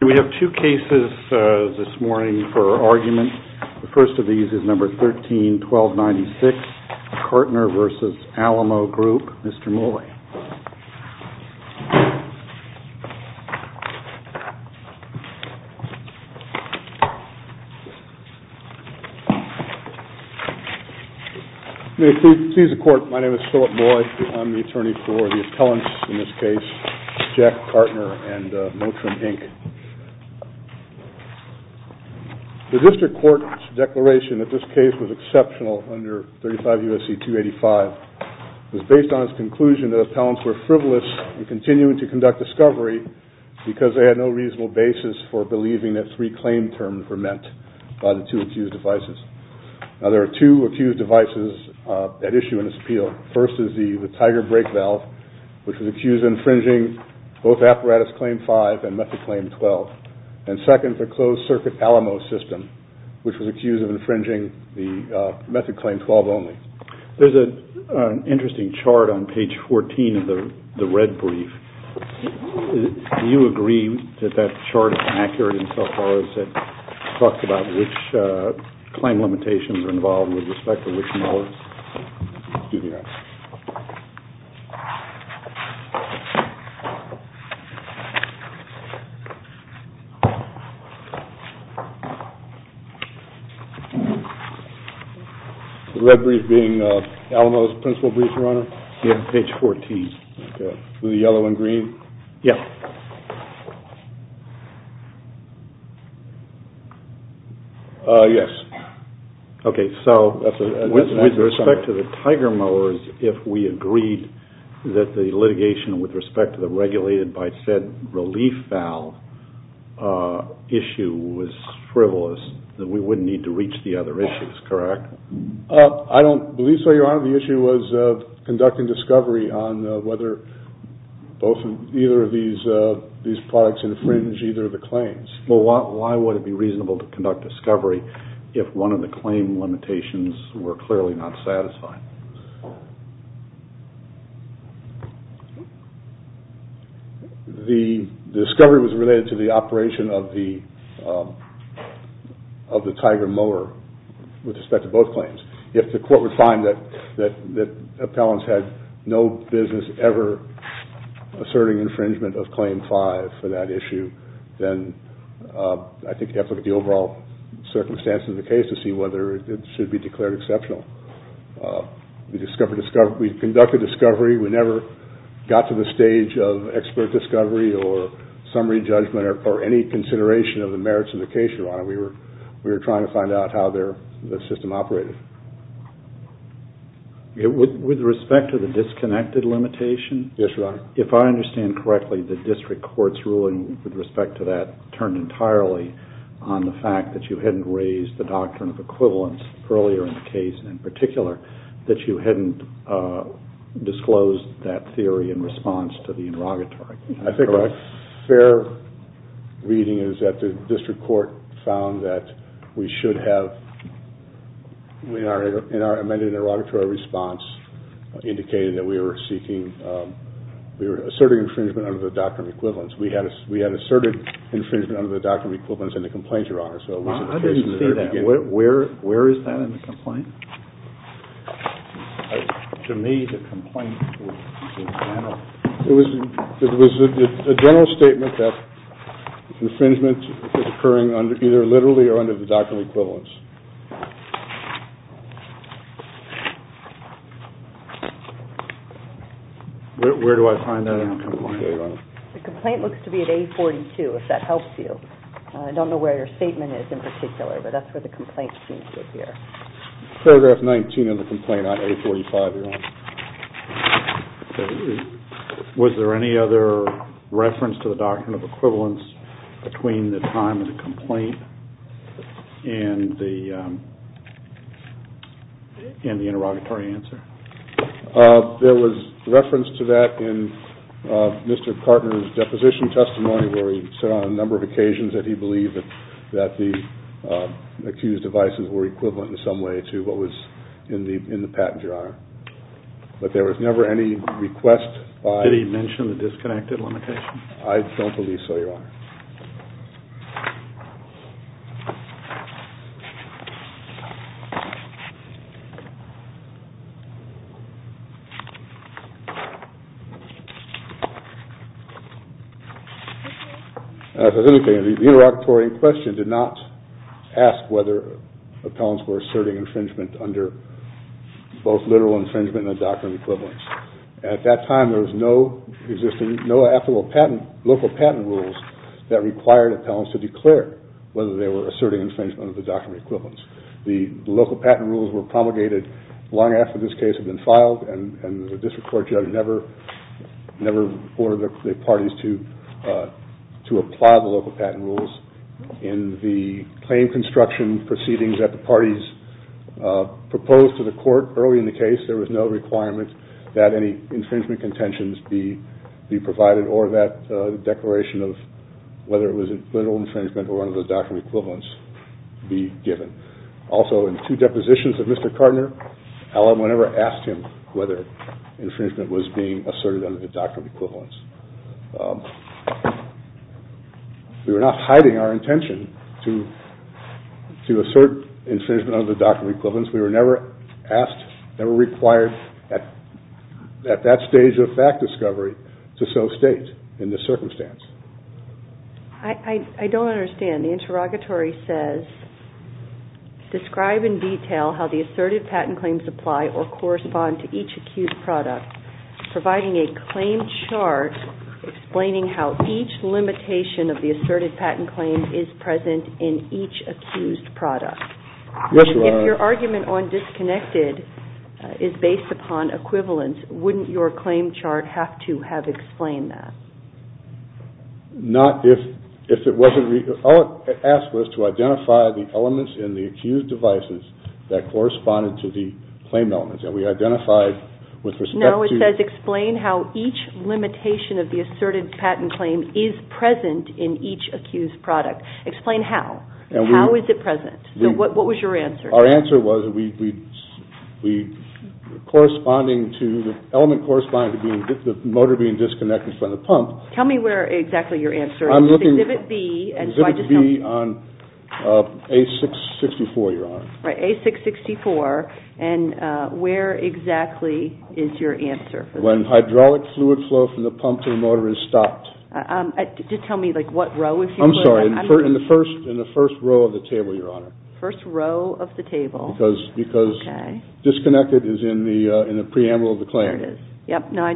We have two cases this morning for argument. The first of these is number 13-1296, Kartner v. Alamo Group. Mr. Molloy. May it please the court, my name is Philip Molloy. I'm the attorney for the appellants in this case, Jack Kartner and Motrin, Inc. The district court's declaration that this case was exceptional under 35 U.S.C. 285 was based on its conclusion that appellants were frivolous in continuing to conduct discovery because they had no reasonable basis for believing that three claim terms were met by the two accused devices. Now there are two accused devices at issue in this appeal. First is the Tiger brake valve, which was accused of infringing both Apparatus Claim 5 and Method Claim 12. And second, the closed circuit Alamo system, which was accused of infringing the Method Claim 12 only. There's an interesting chart on page 14 of the red brief. Do you agree that that chart is accurate insofar as it talks about which claim limitations are involved with respect to which mollies? The red brief being Alamo's principal brief, your honor? Yeah, page 14. With respect to the Tiger mowers, if we agreed that the litigation with respect to the regulated by said relief valve issue was frivolous, then we wouldn't need to reach the other issues, correct? I don't believe so, your honor. The issue was conducting discovery on whether either of these products infringe either of the claims. Well, why would it be reasonable to conduct discovery if one of the claim limitations were clearly not satisfied? The discovery was related to the operation of the Tiger mower with respect to both claims. If the court would find that appellants had no business ever asserting infringement of Claim 5 for that issue, then I think you have to look at the overall circumstances of the case to see whether it should be declared exceptional. We conducted discovery. We never got to the stage of expert discovery or summary judgment or any consideration of the merits of the case, your honor. We were trying to find out how the system operated. With respect to the disconnected limitation, if I understand correctly, the district court's ruling with respect to that turned entirely on the fact that you hadn't raised the doctrine of equivalence earlier in the case in particular, that you hadn't disclosed that theory in response to the interrogatory. I think a fair reading is that the district court found that we should have, in our amended interrogatory response, indicated that we were seeking, we were asserting infringement under the doctrine of equivalence. We had asserted infringement under the doctrine of equivalence in the complaint, your honor. I didn't see that. Where is that in the complaint? To me, the complaint was in general. It was a general statement that infringement is occurring either literally or under the doctrine of equivalence. Where do I find that in the complaint? The complaint looks to be at A42, if that helps you. I don't know where your statement is in particular, but that's where the complaint seems to appear. Paragraph 19 of the complaint on A45, your honor. Was there any other reference to the doctrine of equivalence between the time of the complaint and the interrogatory answer? There was reference to that in Mr. Kartner's deposition testimony, where he said on a number of occasions that he believed that the accused devices were equivalent in some way to what was in the patent, your honor. But there was never any request by... Did he mention the disconnected limitation? I don't believe so, your honor. The interrogatory question did not ask whether appellants were asserting infringement under both literal infringement and the doctrine of equivalence. At that time, there were no local patent rules that required appellants to declare whether they were asserting infringement under the doctrine of equivalence. The local patent rules were promulgated long after this case had been filed, and the district court judge never ordered the parties to apply the local patent rules. In the claim construction proceedings that the parties proposed to the court early in the case, there was no requirement that any infringement contentions be provided, or that the declaration of whether it was literal infringement or under the doctrine of equivalence be given. Also, in two depositions of Mr. Kartner, Allen whenever asked him whether infringement was being asserted under the doctrine of equivalence. We were not hiding our intention to assert infringement under the doctrine of equivalence. We were never asked, never required at that stage of fact discovery to so state in this circumstance. I don't understand. The interrogatory says, Describe in detail how the assertive patent claims apply or correspond to each accused product, providing a claim chart explaining how each limitation of the assertive patent claim is present in each accused product. If your argument on disconnected is based upon equivalence, wouldn't your claim chart have to have explained that? Not if it wasn't, it asked us to identify the elements in the accused devices that corresponded to the claim elements, and we identified with respect to No, it says explain how each limitation of the assertive patent claim is present in each accused product. Explain how. How is it present? What was your answer? Our answer was we, corresponding to the element corresponding to the motor being disconnected from the pump. Tell me where exactly your answer is. Exhibit B on A664, Your Honor. Right, A664. And where exactly is your answer? When hydraulic fluid flow from the pump to the motor is stopped. Just tell me what row. I'm sorry. In the first row of the table, Your Honor. First row of the table. Because disconnected is in the preamble of the claim. There it is.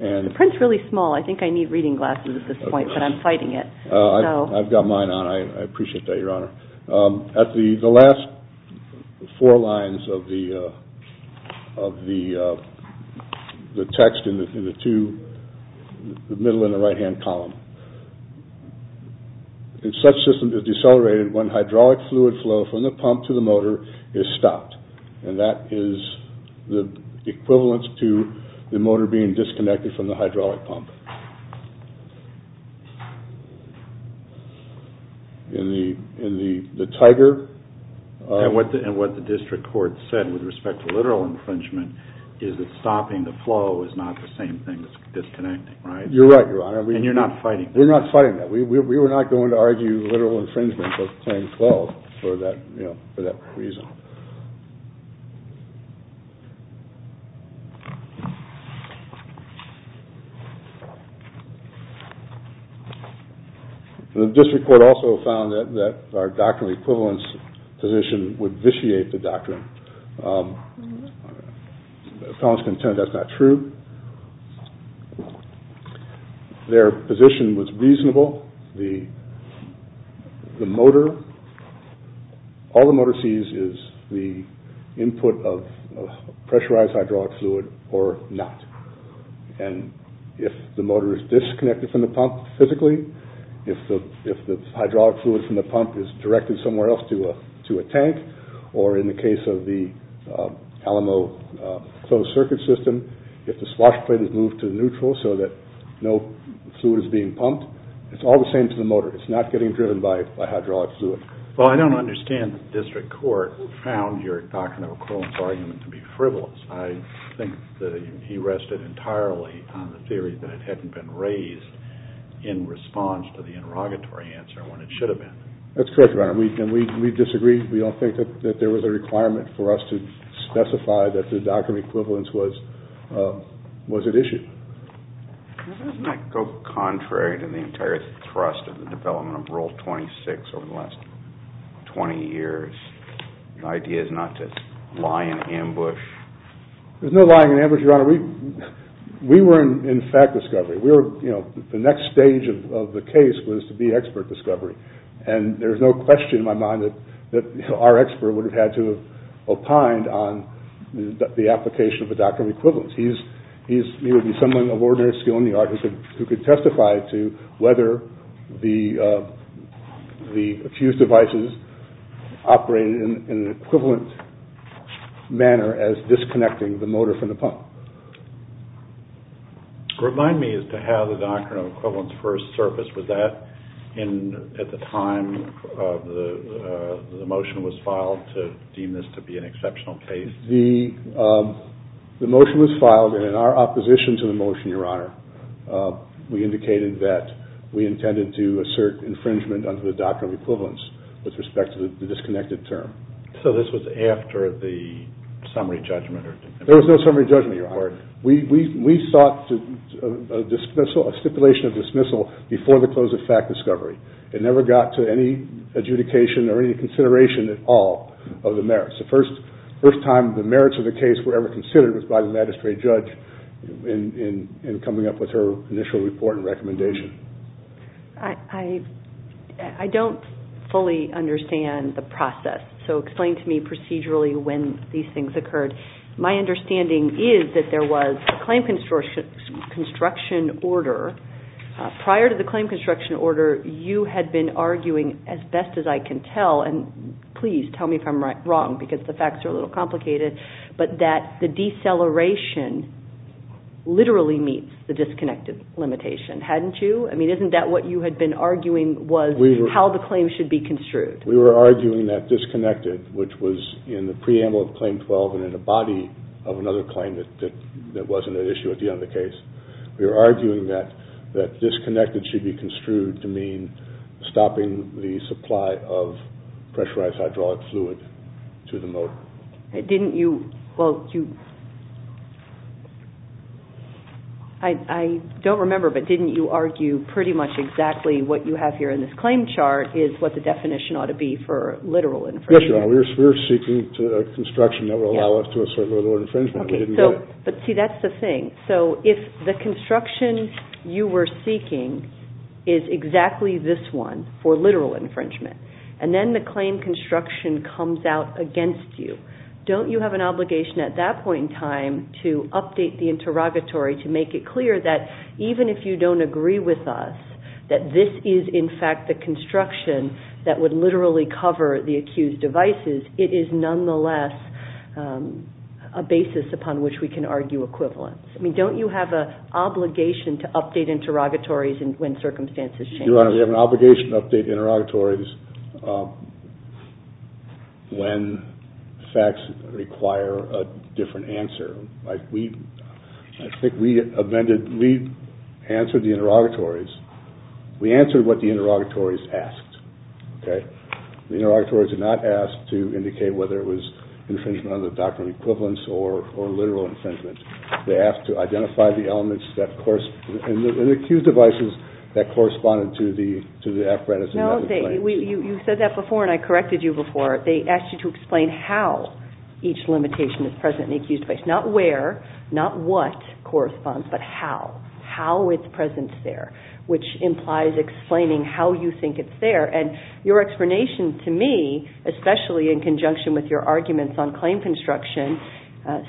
The print's really small. I think I need reading glasses at this point, but I'm fighting it. I've got mine on. I appreciate that, Your Honor. The last four lines of the text in the middle in the right-hand column. Such system is decelerated when hydraulic fluid flow from the pump to the motor is stopped. And that is the equivalence to the motor being disconnected from the hydraulic pump. In the tiger. And what the district court said with respect to literal infringement is that stopping the flow is not the same thing as disconnecting, right? You're right, Your Honor. And you're not fighting that. We're not fighting that. We were not going to argue literal infringement of 1012 for that reason. The district court also found that our doctrinal equivalence position would vitiate the doctrine. The appellants contend that's not true. Their position was reasonable. The motor. All the motor sees is the input of pressurized hydraulic fluid or not. And if the motor is disconnected from the pump physically, if the hydraulic fluid from the pump is directed somewhere else to a to a tank, or in the case of the Alamo closed circuit system, if the swashplate is moved to neutral so that no fluid is being pumped, it's all the same to the motor. It's not getting driven by hydraulic fluid. Well, I don't understand that the district court found your doctrinal equivalence argument to be frivolous. I think that he rested entirely on the theory that it hadn't been raised in response to the interrogatory answer when it should have been. That's correct, Your Honor. And we disagree. We don't think that there was a requirement for us to specify that the doctrinal equivalence was at issue. Doesn't that go contrary to the entire thrust of the development of Rule 26 over the last 20 years? The idea is not to lie in ambush. There's no lying in ambush, Your Honor. We were in fact discovery. We were, you know, the next stage of the case was to be expert discovery. And there's no question in my mind that our expert would have had to have opined on the application of the doctrinal equivalence. He would be someone of ordinary skill in the art who could testify to whether the fused devices operated in an equivalent manner as disconnecting the motor from the pump. Remind me as to how the doctrinal equivalence first surfaced. Was that at the time the motion was filed to deem this to be an exceptional case? The motion was filed, and in our opposition to the motion, Your Honor, we indicated that we intended to assert infringement under the doctrinal equivalence with respect to the disconnected term. So this was after the summary judgment? There was no summary judgment, Your Honor. We sought a stipulation of dismissal before the close of fact discovery. It never got to any adjudication or any consideration at all of the merits. The first time the merits of the case were ever considered was by the magistrate judge in coming up with her initial report and recommendation. I don't fully understand the process. So explain to me procedurally when these things occurred. My understanding is that there was a claim construction order. Prior to the claim construction order, you had been arguing as best as I can tell, and please tell me if I'm wrong because the facts are a little complicated, but that the deceleration literally meets the disconnected limitation. Hadn't you? I mean, isn't that what you had been arguing was how the claim should be construed? We were arguing that disconnected, which was in the preamble of Claim 12 and in a body of another claim that wasn't at issue at the end of the case, we were arguing that disconnected should be construed to mean stopping the supply of pressurized hydraulic fluid to the motor. I don't remember, but didn't you argue pretty much exactly what you have here in this claim chart is what the definition ought to be for literal infringement? Yes, Your Honor. We were seeking a construction that would allow us to assert literal infringement. But see, that's the thing. If the construction you were seeking is exactly this one for literal infringement, and then the claim construction comes out against you, don't you have an obligation at that point in time to update the interrogatory to make it clear that even if you don't agree with us that this is in fact the construction that would literally cover the accused devices, it is nonetheless a basis upon which we can argue equivalence. I mean, don't you have an obligation to update interrogatories when circumstances change? Your Honor, we have an obligation to update interrogatories when facts require a different answer. I think we answered the interrogatories. We answered what the interrogatories asked. The interrogatories did not ask to indicate whether it was infringement under the doctrine of equivalence or literal infringement. They asked to identify the elements in the accused devices that corresponded to the apprentices. No, you said that before, and I corrected you before. They asked you to explain how each limitation is present in the accused devices. Not where, not what corresponds, but how. How its presence is there, which implies explaining how you think it's there. And your explanation to me, especially in conjunction with your arguments on claim construction,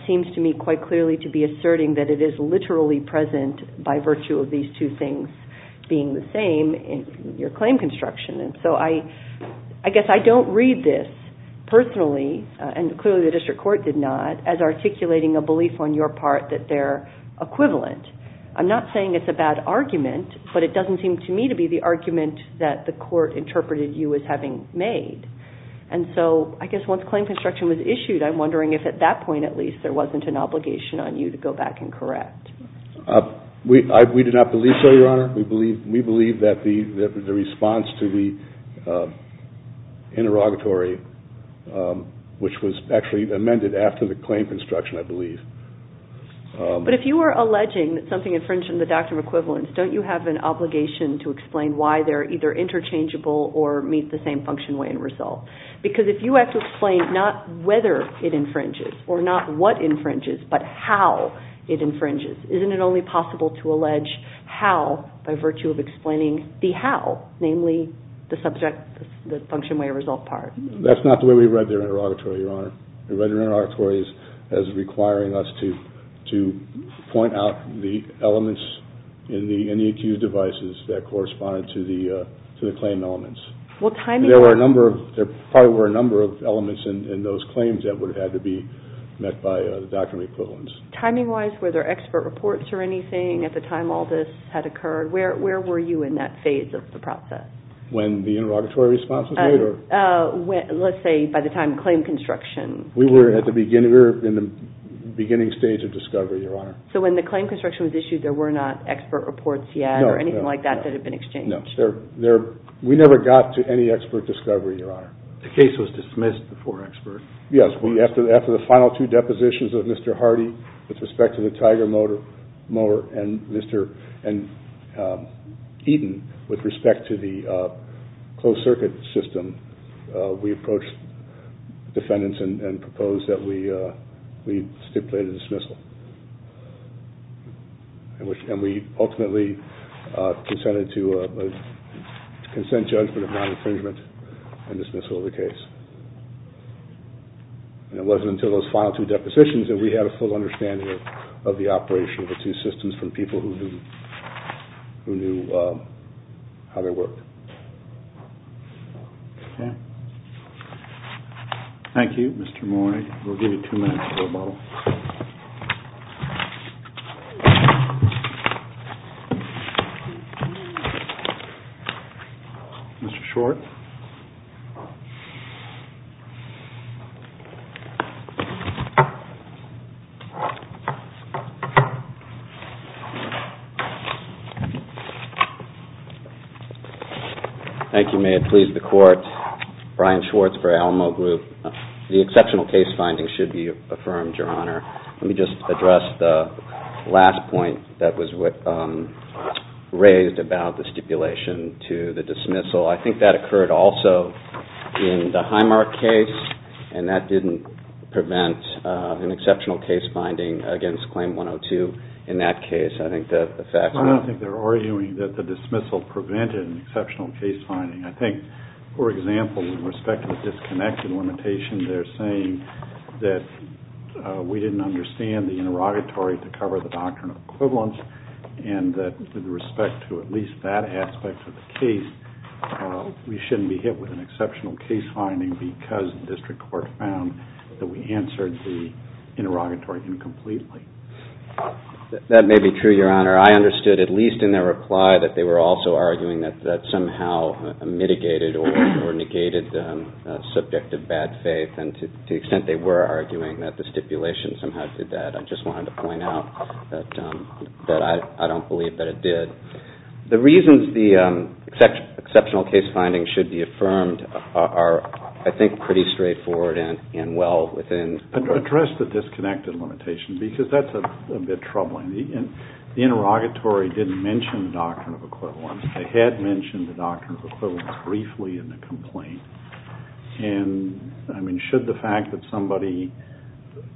seems to me quite clearly to be asserting that it is literally present by virtue of these two things being the same in your claim construction. So I guess I don't read this personally, and clearly the district court did not, as articulating a belief on your part that they're equivalent. I'm not saying it's a bad argument, but it doesn't seem to me to be the argument that the court interpreted you as having made. And so I guess once claim construction was issued, I'm wondering if at that point at least there wasn't an obligation on you to go back and correct. We did not believe so, Your Honor. We believe that the response to the interrogatory, which was actually amended after the claim construction, I believe. But if you were alleging that something infringed on the doctrine of equivalence, don't you have an obligation to explain why they're either interchangeable or meet the same function, way, and result? Because if you have to explain not whether it infringes or not what infringes, but how it infringes, isn't it only possible to allege how by virtue of explaining the how, namely the subject, the function, way, result part? That's not the way we read the interrogatory, Your Honor. We read the interrogatory as requiring us to point out the elements in the accused devices that corresponded to the claim elements. There probably were a number of elements in those claims that would have had to be met by the doctrine of equivalence. Timing-wise, were there expert reports or anything at the time all this had occurred? Where were you in that phase of the process? When the interrogatory response was made or? Let's say by the time claim construction. We were in the beginning stage of discovery, Your Honor. So when the claim construction was issued, there were not expert reports yet or anything like that that had been exchanged? No. We never got to any expert discovery, Your Honor. The case was dismissed before expert. Yes. After the final two depositions of Mr. Hardy with respect to the Tiger mower and Mr. Eaton with respect to the closed-circuit system, we approached defendants and proposed that we stipulate a dismissal. And we ultimately consented to a consent judgment of non-infringement and dismissal of the case. It wasn't until those final two depositions that we had a full understanding of the operation of the two systems from people who knew how they worked. Okay. Thank you, Mr. Moy. We'll give you two minutes to rebuttal. Mr. Schwartz. Thank you. May it please the Court. Brian Schwartz for Alamo Group. The exceptional case finding should be affirmed, Your Honor. Let me just address the last point that was raised about the stipulation to the dismissal. I think that occurred also in the Highmark case, and that didn't prevent an exceptional case finding against Claim 102. I don't think they're arguing that the dismissal prevented an exceptional case finding. I think, for example, with respect to the disconnected limitation, they're saying that we didn't understand the interrogatory to cover the doctrinal equivalence, and that with respect to at least that aspect of the case, we shouldn't be hit with an exceptional case finding because the district court found that we answered the interrogatory incompletely. That may be true, Your Honor. I understood, at least in their reply, that they were also arguing that that somehow mitigated or negated the subject of bad faith, and to the extent they were arguing that the stipulation somehow did that, I just wanted to point out that I don't believe that it did. The reasons the exceptional case findings should be affirmed are, I think, pretty straightforward and well within address the disconnected limitation, because that's a bit troubling. The interrogatory didn't mention the doctrine of equivalence. They had mentioned the doctrine of equivalence briefly in the complaint, and should the fact that somebody,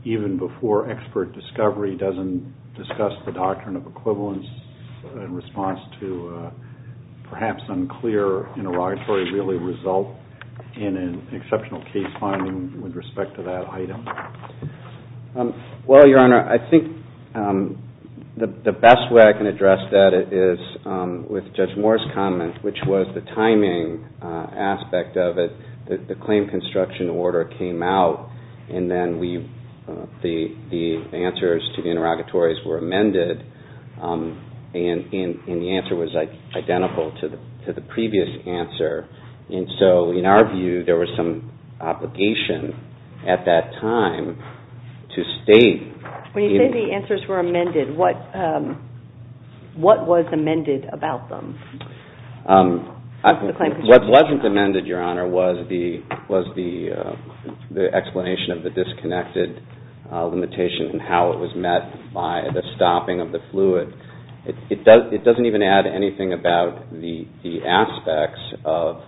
even before expert discovery, doesn't discuss the doctrine of equivalence in response to a perhaps unclear interrogatory really result in an exceptional case finding with respect to that item? Well, Your Honor, I think the best way I can address that is with Judge Moore's comment, which was the timing aspect of it. The claim construction order came out, and then the answers to the interrogatories were amended, and the answer was identical to the previous answer. And so, in our view, there was some obligation at that time to state- When you say the answers were amended, what was amended about them? What wasn't amended, Your Honor, was the explanation of the disconnected limitation and how it was met by the stopping of the fluid. It doesn't even add anything about the aspects of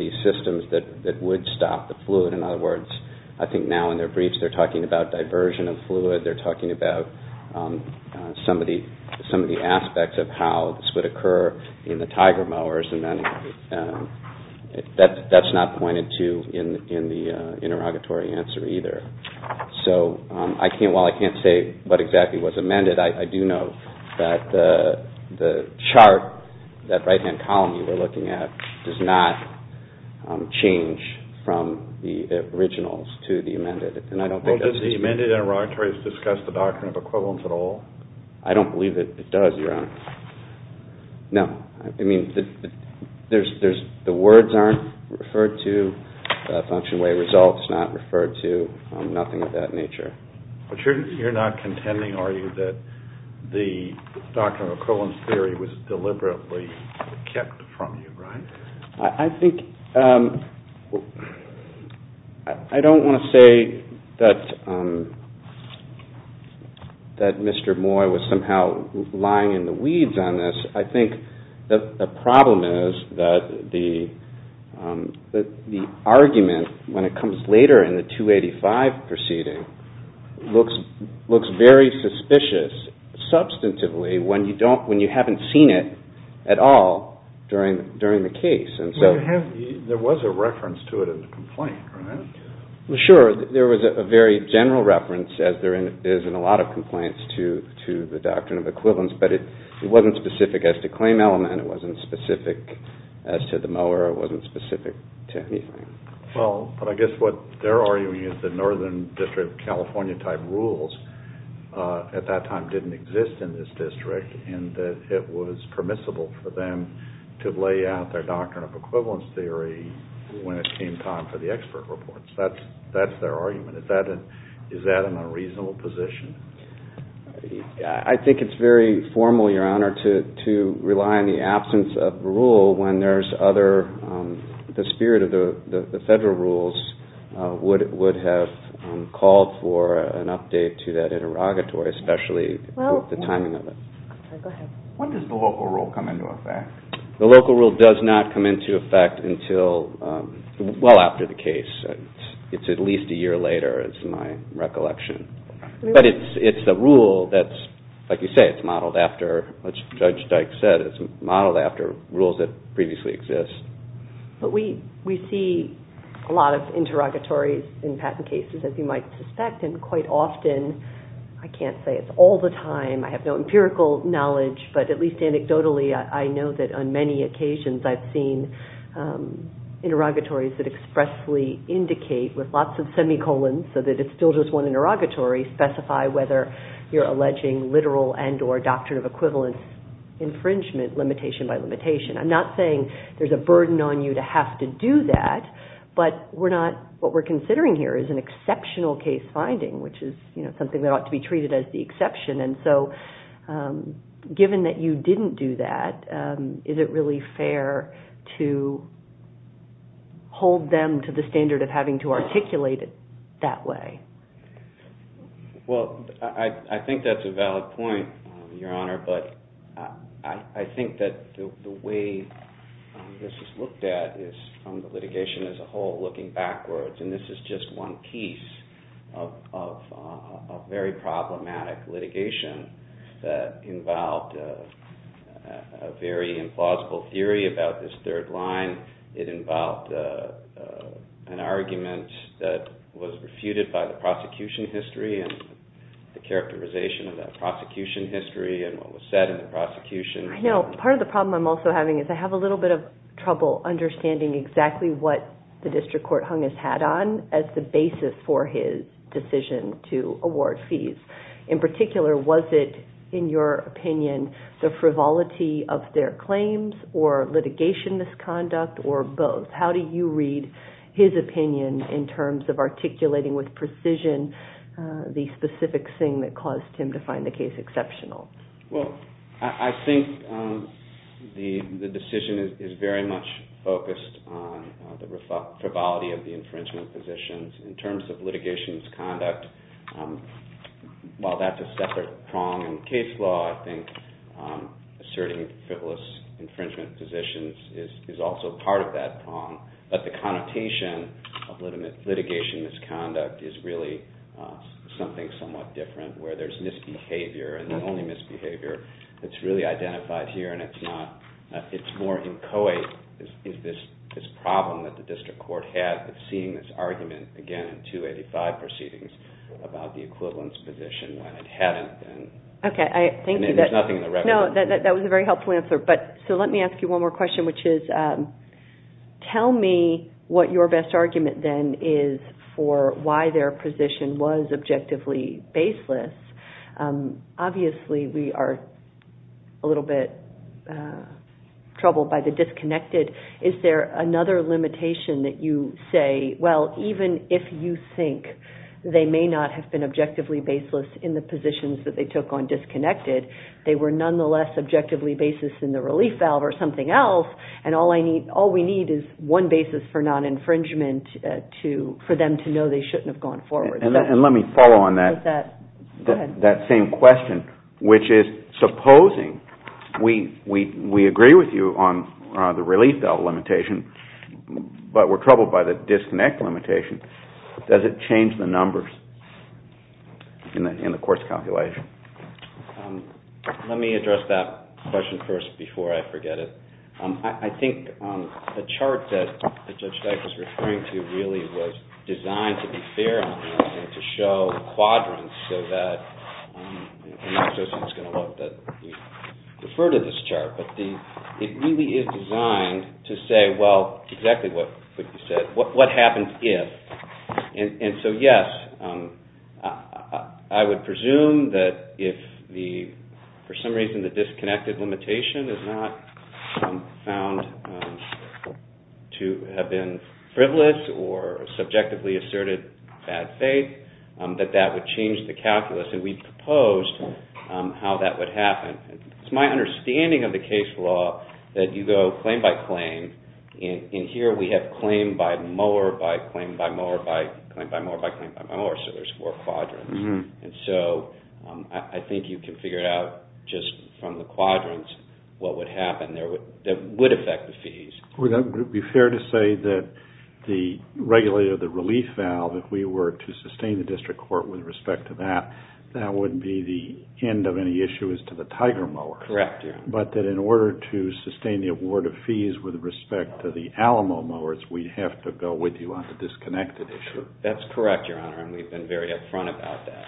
the systems that would stop the fluid. In other words, I think now in their briefs they're talking about diversion of fluid. They're talking about some of the aspects of how this would occur in the Tiger mowers, and that's not pointed to in the interrogatory answer either. So while I can't say what exactly was amended, I do know that the chart, that right-hand column you were looking at, does not change from the originals to the amended. Well, does the amended interrogatories discuss the doctrine of equivalence at all? I don't believe it does, Your Honor. No. I mean, the words aren't referred to, function way results not referred to, nothing of that nature. But you're not contending, are you, that the doctrine of equivalence theory was deliberately kept from you, right? I think – I don't want to say that Mr. Moy was somehow lying in the weeds on this. I think the problem is that the argument, when it comes later in the 285 proceeding, looks very suspicious substantively when you haven't seen it at all during the case. Well, there was a reference to it in the complaint, right? Sure. There was a very general reference, as there is in a lot of complaints, to the doctrine of equivalence, but it wasn't specific as to claim element. It wasn't specific as to the mower. It wasn't specific to anything. Well, but I guess what they're arguing is the Northern District of California type rules at that time didn't exist in this district, and that it was permissible for them to lay out their doctrine of equivalence theory when it came time for the expert reports. That's their argument. Is that an unreasonable position? I think it's very formal, Your Honor, to rely on the absence of a rule when there's other – the spirit of the federal rules would have called for an update to that interrogatory, especially the timing of it. When does the local rule come into effect? The local rule does not come into effect until well after the case. It's at least a year later, is my recollection. But it's the rule that's – like you say, it's modeled after – as Judge Dyke said, it's modeled after rules that previously exist. But we see a lot of interrogatories in patent cases, as you might suspect, and quite often – I can't say it's all the time. I have no empirical knowledge, but at least anecdotally, I know that on many occasions, I've seen interrogatories that expressly indicate with lots of semicolons so that it's still just one interrogatory, specify whether you're alleging literal and or doctrine of equivalence infringement, limitation by limitation. I'm not saying there's a burden on you to have to do that, but we're not – what we're considering here is an exceptional case finding, which is something that ought to be treated as the exception. And so given that you didn't do that, is it really fair to hold them to the standard of having to articulate it that way? Well, I think that's a valid point, Your Honor, but I think that the way this is looked at is from the litigation as a whole, looking backwards, and this is just one piece of very problematic litigation that involved a very implausible theory about this third line. It involved an argument that was refuted by the prosecution history and the characterization of that prosecution history and what was said in the prosecution. I know. Part of the problem I'm also having is I have a little bit of trouble understanding exactly what the district court hung its hat on as the basis for his decision to award fees. In particular, was it, in your opinion, the frivolity of their claims or litigation misconduct or both? How do you read his opinion in terms of articulating with precision the specific thing that caused him to find the case exceptional? Well, I think the decision is very much focused on the frivolity of the infringement positions. In terms of litigation misconduct, while that's a separate prong in case law, I think asserting frivolous infringement positions is also part of that prong. But the connotation of litigation misconduct is really something somewhat different where there's misbehavior, and the only misbehavior that's really identified here and it's more inchoate is this problem that the district court had with seeing this argument again in 285 proceedings about the equivalence position when it hadn't been. There's nothing in the record. That was a very helpful answer. So let me ask you one more question, which is tell me what your best argument then is for why their position was objectively baseless. Obviously, we are a little bit troubled by the disconnected. Is there another limitation that you say, well, even if you think they may not have been objectively baseless in the positions that they took on disconnected, they were nonetheless objectively baseless in the relief valve or something else, and all we need is one basis for non-infringement for them to know they shouldn't have gone forward. And let me follow on that same question, which is supposing we agree with you on the relief valve limitation, but we're troubled by the disconnect limitation, does it change the numbers in the course calculation? Let me address that question first before I forget it. I think the chart that Judge Dyk was referring to really was designed to be fair and to show quadrants so that, and I'm not suggesting it's going to look that we defer to this chart, but it really is designed to say, well, exactly what you said, what happens if. And so yes, I would presume that if for some reason the disconnected limitation is not found to have been frivolous or subjectively asserted bad faith, that that would change the calculus, and we proposed how that would happen. It's my understanding of the case law that you go claim by claim, and here we have claim by mower, by claim by mower, by claim by mower, by claim by mower, so there's four quadrants. And so I think you can figure out just from the quadrants what would happen that would affect the fees. Would it be fair to say that the regulator of the relief valve, if we were to sustain the district court with respect to that, that would be the end of any issues to the tiger mower? Correct, Your Honor. But that in order to sustain the award of fees with respect to the Alamo mowers, we'd have to go with you on the disconnected issue. That's correct, Your Honor, and we've been very up front about that.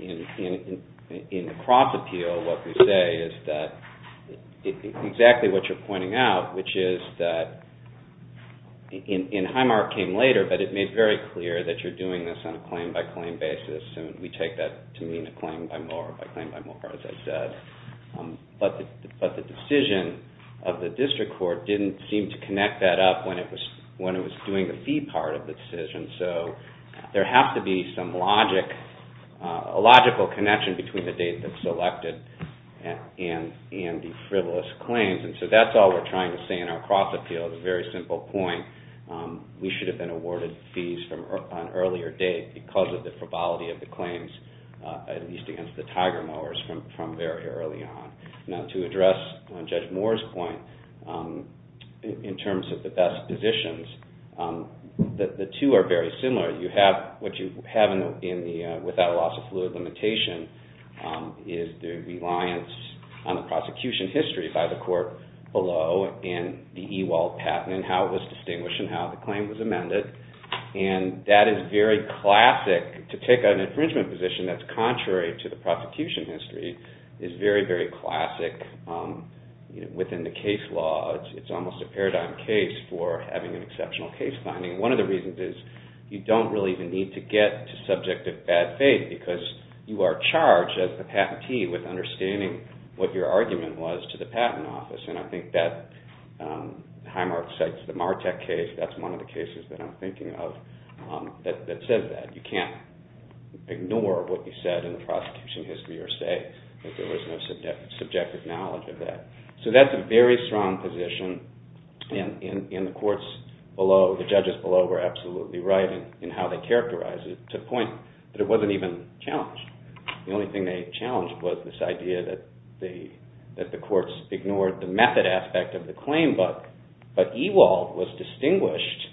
In the cross appeal, what we say is that exactly what you're pointing out, which is that, and Highmark came later, but it made very clear that you're doing this on a claim by claim basis, and we take that to mean a claim by mower, by claim by mower, as I said. But the decision of the district court didn't seem to connect that up when it was doing the fee part of the decision, so there has to be some logic, a logical connection between the date that's selected and the frivolous claims. So that's all we're trying to say in our cross appeal, a very simple point. We should have been awarded fees on an earlier date because of the frivolity of the claims, at least against the tiger mowers from very early on. Now to address Judge Moore's point, in terms of the best positions, the two are very similar. What you have without a loss of fluid limitation is the reliance on the prosecution history by the court below and the Ewald patent and how it was distinguished and how the claim was amended, and that is very classic. To take an infringement position that's contrary to the prosecution history is very, very classic within the case law. It's almost a paradigm case for having an exceptional case finding. One of the reasons is you don't really even need to get to subjective bad faith because you are charged as the patentee with understanding what your argument was to the patent office, and I think that Highmark cites the Martek case. That's one of the cases that I'm thinking of that says that. You can't ignore what you said in the prosecution history or say that there was no subjective knowledge of that. So that's a very strong position, and the courts below, the judges below were absolutely right in how they characterized it to the point that it wasn't even challenged. The only thing they challenged was this idea that the courts ignored the method aspect of the claim, but Ewald was distinguished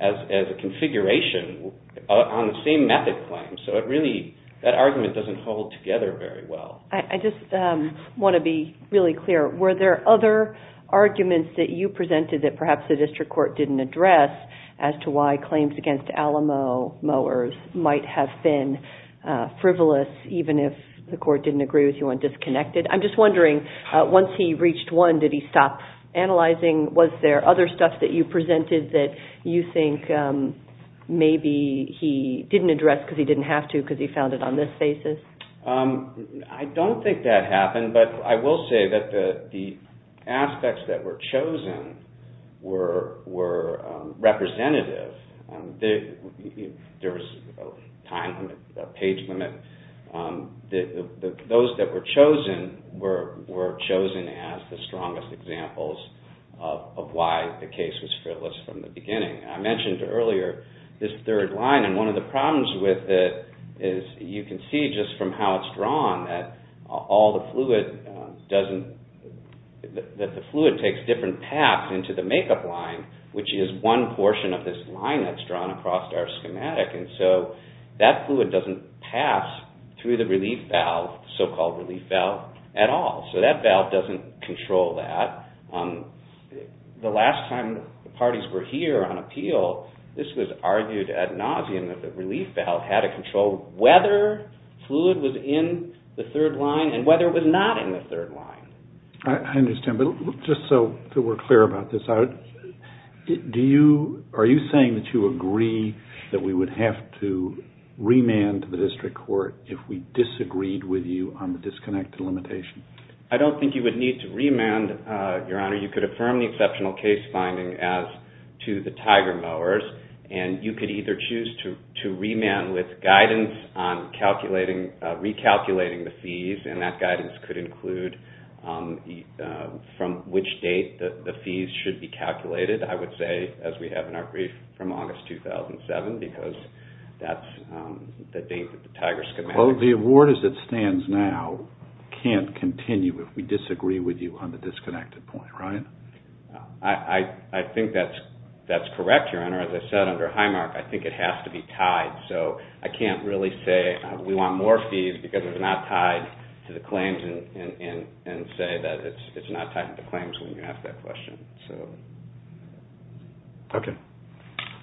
as a configuration on the same method claim. So it really, that argument doesn't hold together very well. I just want to be really clear. Were there other arguments that you presented that perhaps the district court didn't address as to why claims against Alamo mowers might have been frivolous even if the court didn't agree with you and disconnected? I'm just wondering, once he reached one, did he stop analyzing? Was there other stuff that you presented that you think maybe he didn't address because he didn't have to because he found it on this basis? I don't think that happened, but I will say that the aspects that were chosen were representative. There was a time limit, a page limit. Those that were chosen were chosen as the strongest examples of why the case was frivolous from the beginning. I mentioned earlier this third line, and one of the problems with it is you can see just from how it's drawn that all the fluid doesn't, that the fluid takes different paths into the makeup line, which is one portion of this line that's drawn across our schematic, and so that fluid doesn't pass through the relief valve, so-called relief valve, at all. So that valve doesn't control that. The last time the parties were here on appeal, this was argued ad nauseum that the relief valve had to control whether fluid was in the third line and whether it was not in the third line. I understand, but just so we're clear about this, are you saying that you agree that we would have to remand the district court if we disagreed with you on the disconnected limitation? I don't think you would need to remand, Your Honor. You could affirm the exceptional case finding as to the tiger mowers, and you could either choose to remand with guidance on recalculating the fees, and that guidance could include from which date the fees should be calculated. I would say, as we have in our brief, from August 2007, because that's the date that the tiger schematic- Well, the award as it stands now can't continue if we disagree with you on the disconnected point, right? I think that's correct, Your Honor. As I said under Highmark, I think it has to be tied, so I can't really say we want more fees because it's not tied to the claims and say that it's not tied to the claims when you ask that question. Okay.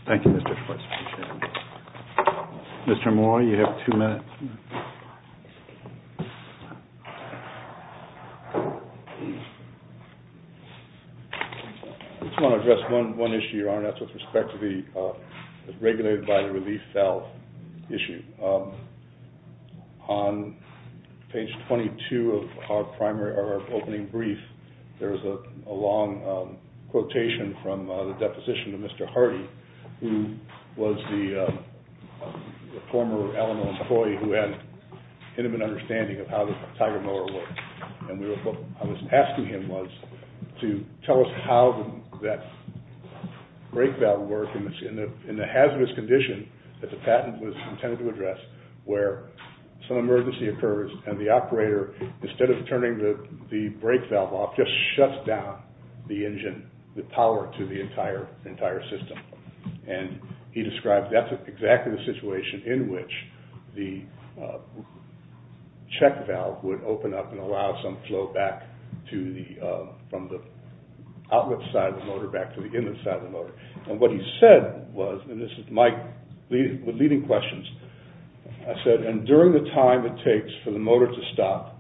Thank you, Mr. Schwartz. Mr. Moore, you have two minutes. I just want to address one issue, Your Honor, and that's with respect to the regulated by the relief valve issue. On page 22 of our opening brief, there's a long quotation from the deposition to Mr. Hardy who was the former Illinois employee who had intimate understanding of how the tiger mower worked, and what I was asking him was to tell us how that brake valve worked in the hazardous condition that the patent was intended to address where some emergency occurs and the operator, instead of turning the brake valve off, just shuts down the engine, the power to the entire system. And he described that's exactly the situation in which the check valve would open up and allow some flow back from the outlet side of the motor back to the inlet side of the motor. And what he said was, and this is my leading questions, I said, and during the time it takes for the motor to stop,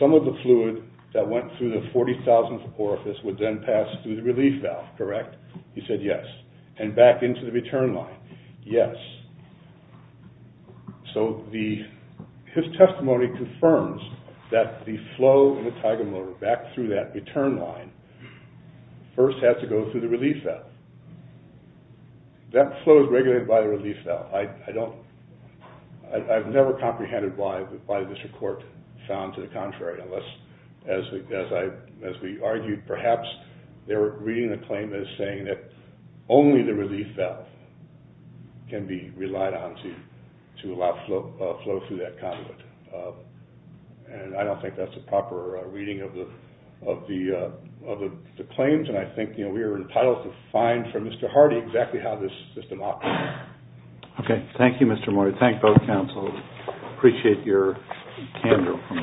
some of the fluid that went through the 40,000th orifice would then pass through the relief valve, correct? He said yes. And back into the return line? Yes. So his testimony confirms that the flow of the tiger mower back through that return line first has to go through the relief valve. That flow is regulated by the relief valve. I've never comprehended why this report found to the contrary unless, as we argued, perhaps they were reading the claim as saying that only the relief valve can be relied on to allow flow through that conduit. And I don't think that's a proper reading of the claims and I think we are entitled to find from Mr. Hardy exactly how this system operates. Okay. Thank you, Mr. Moyer. Thank both counsels. Appreciate your candor from both of you.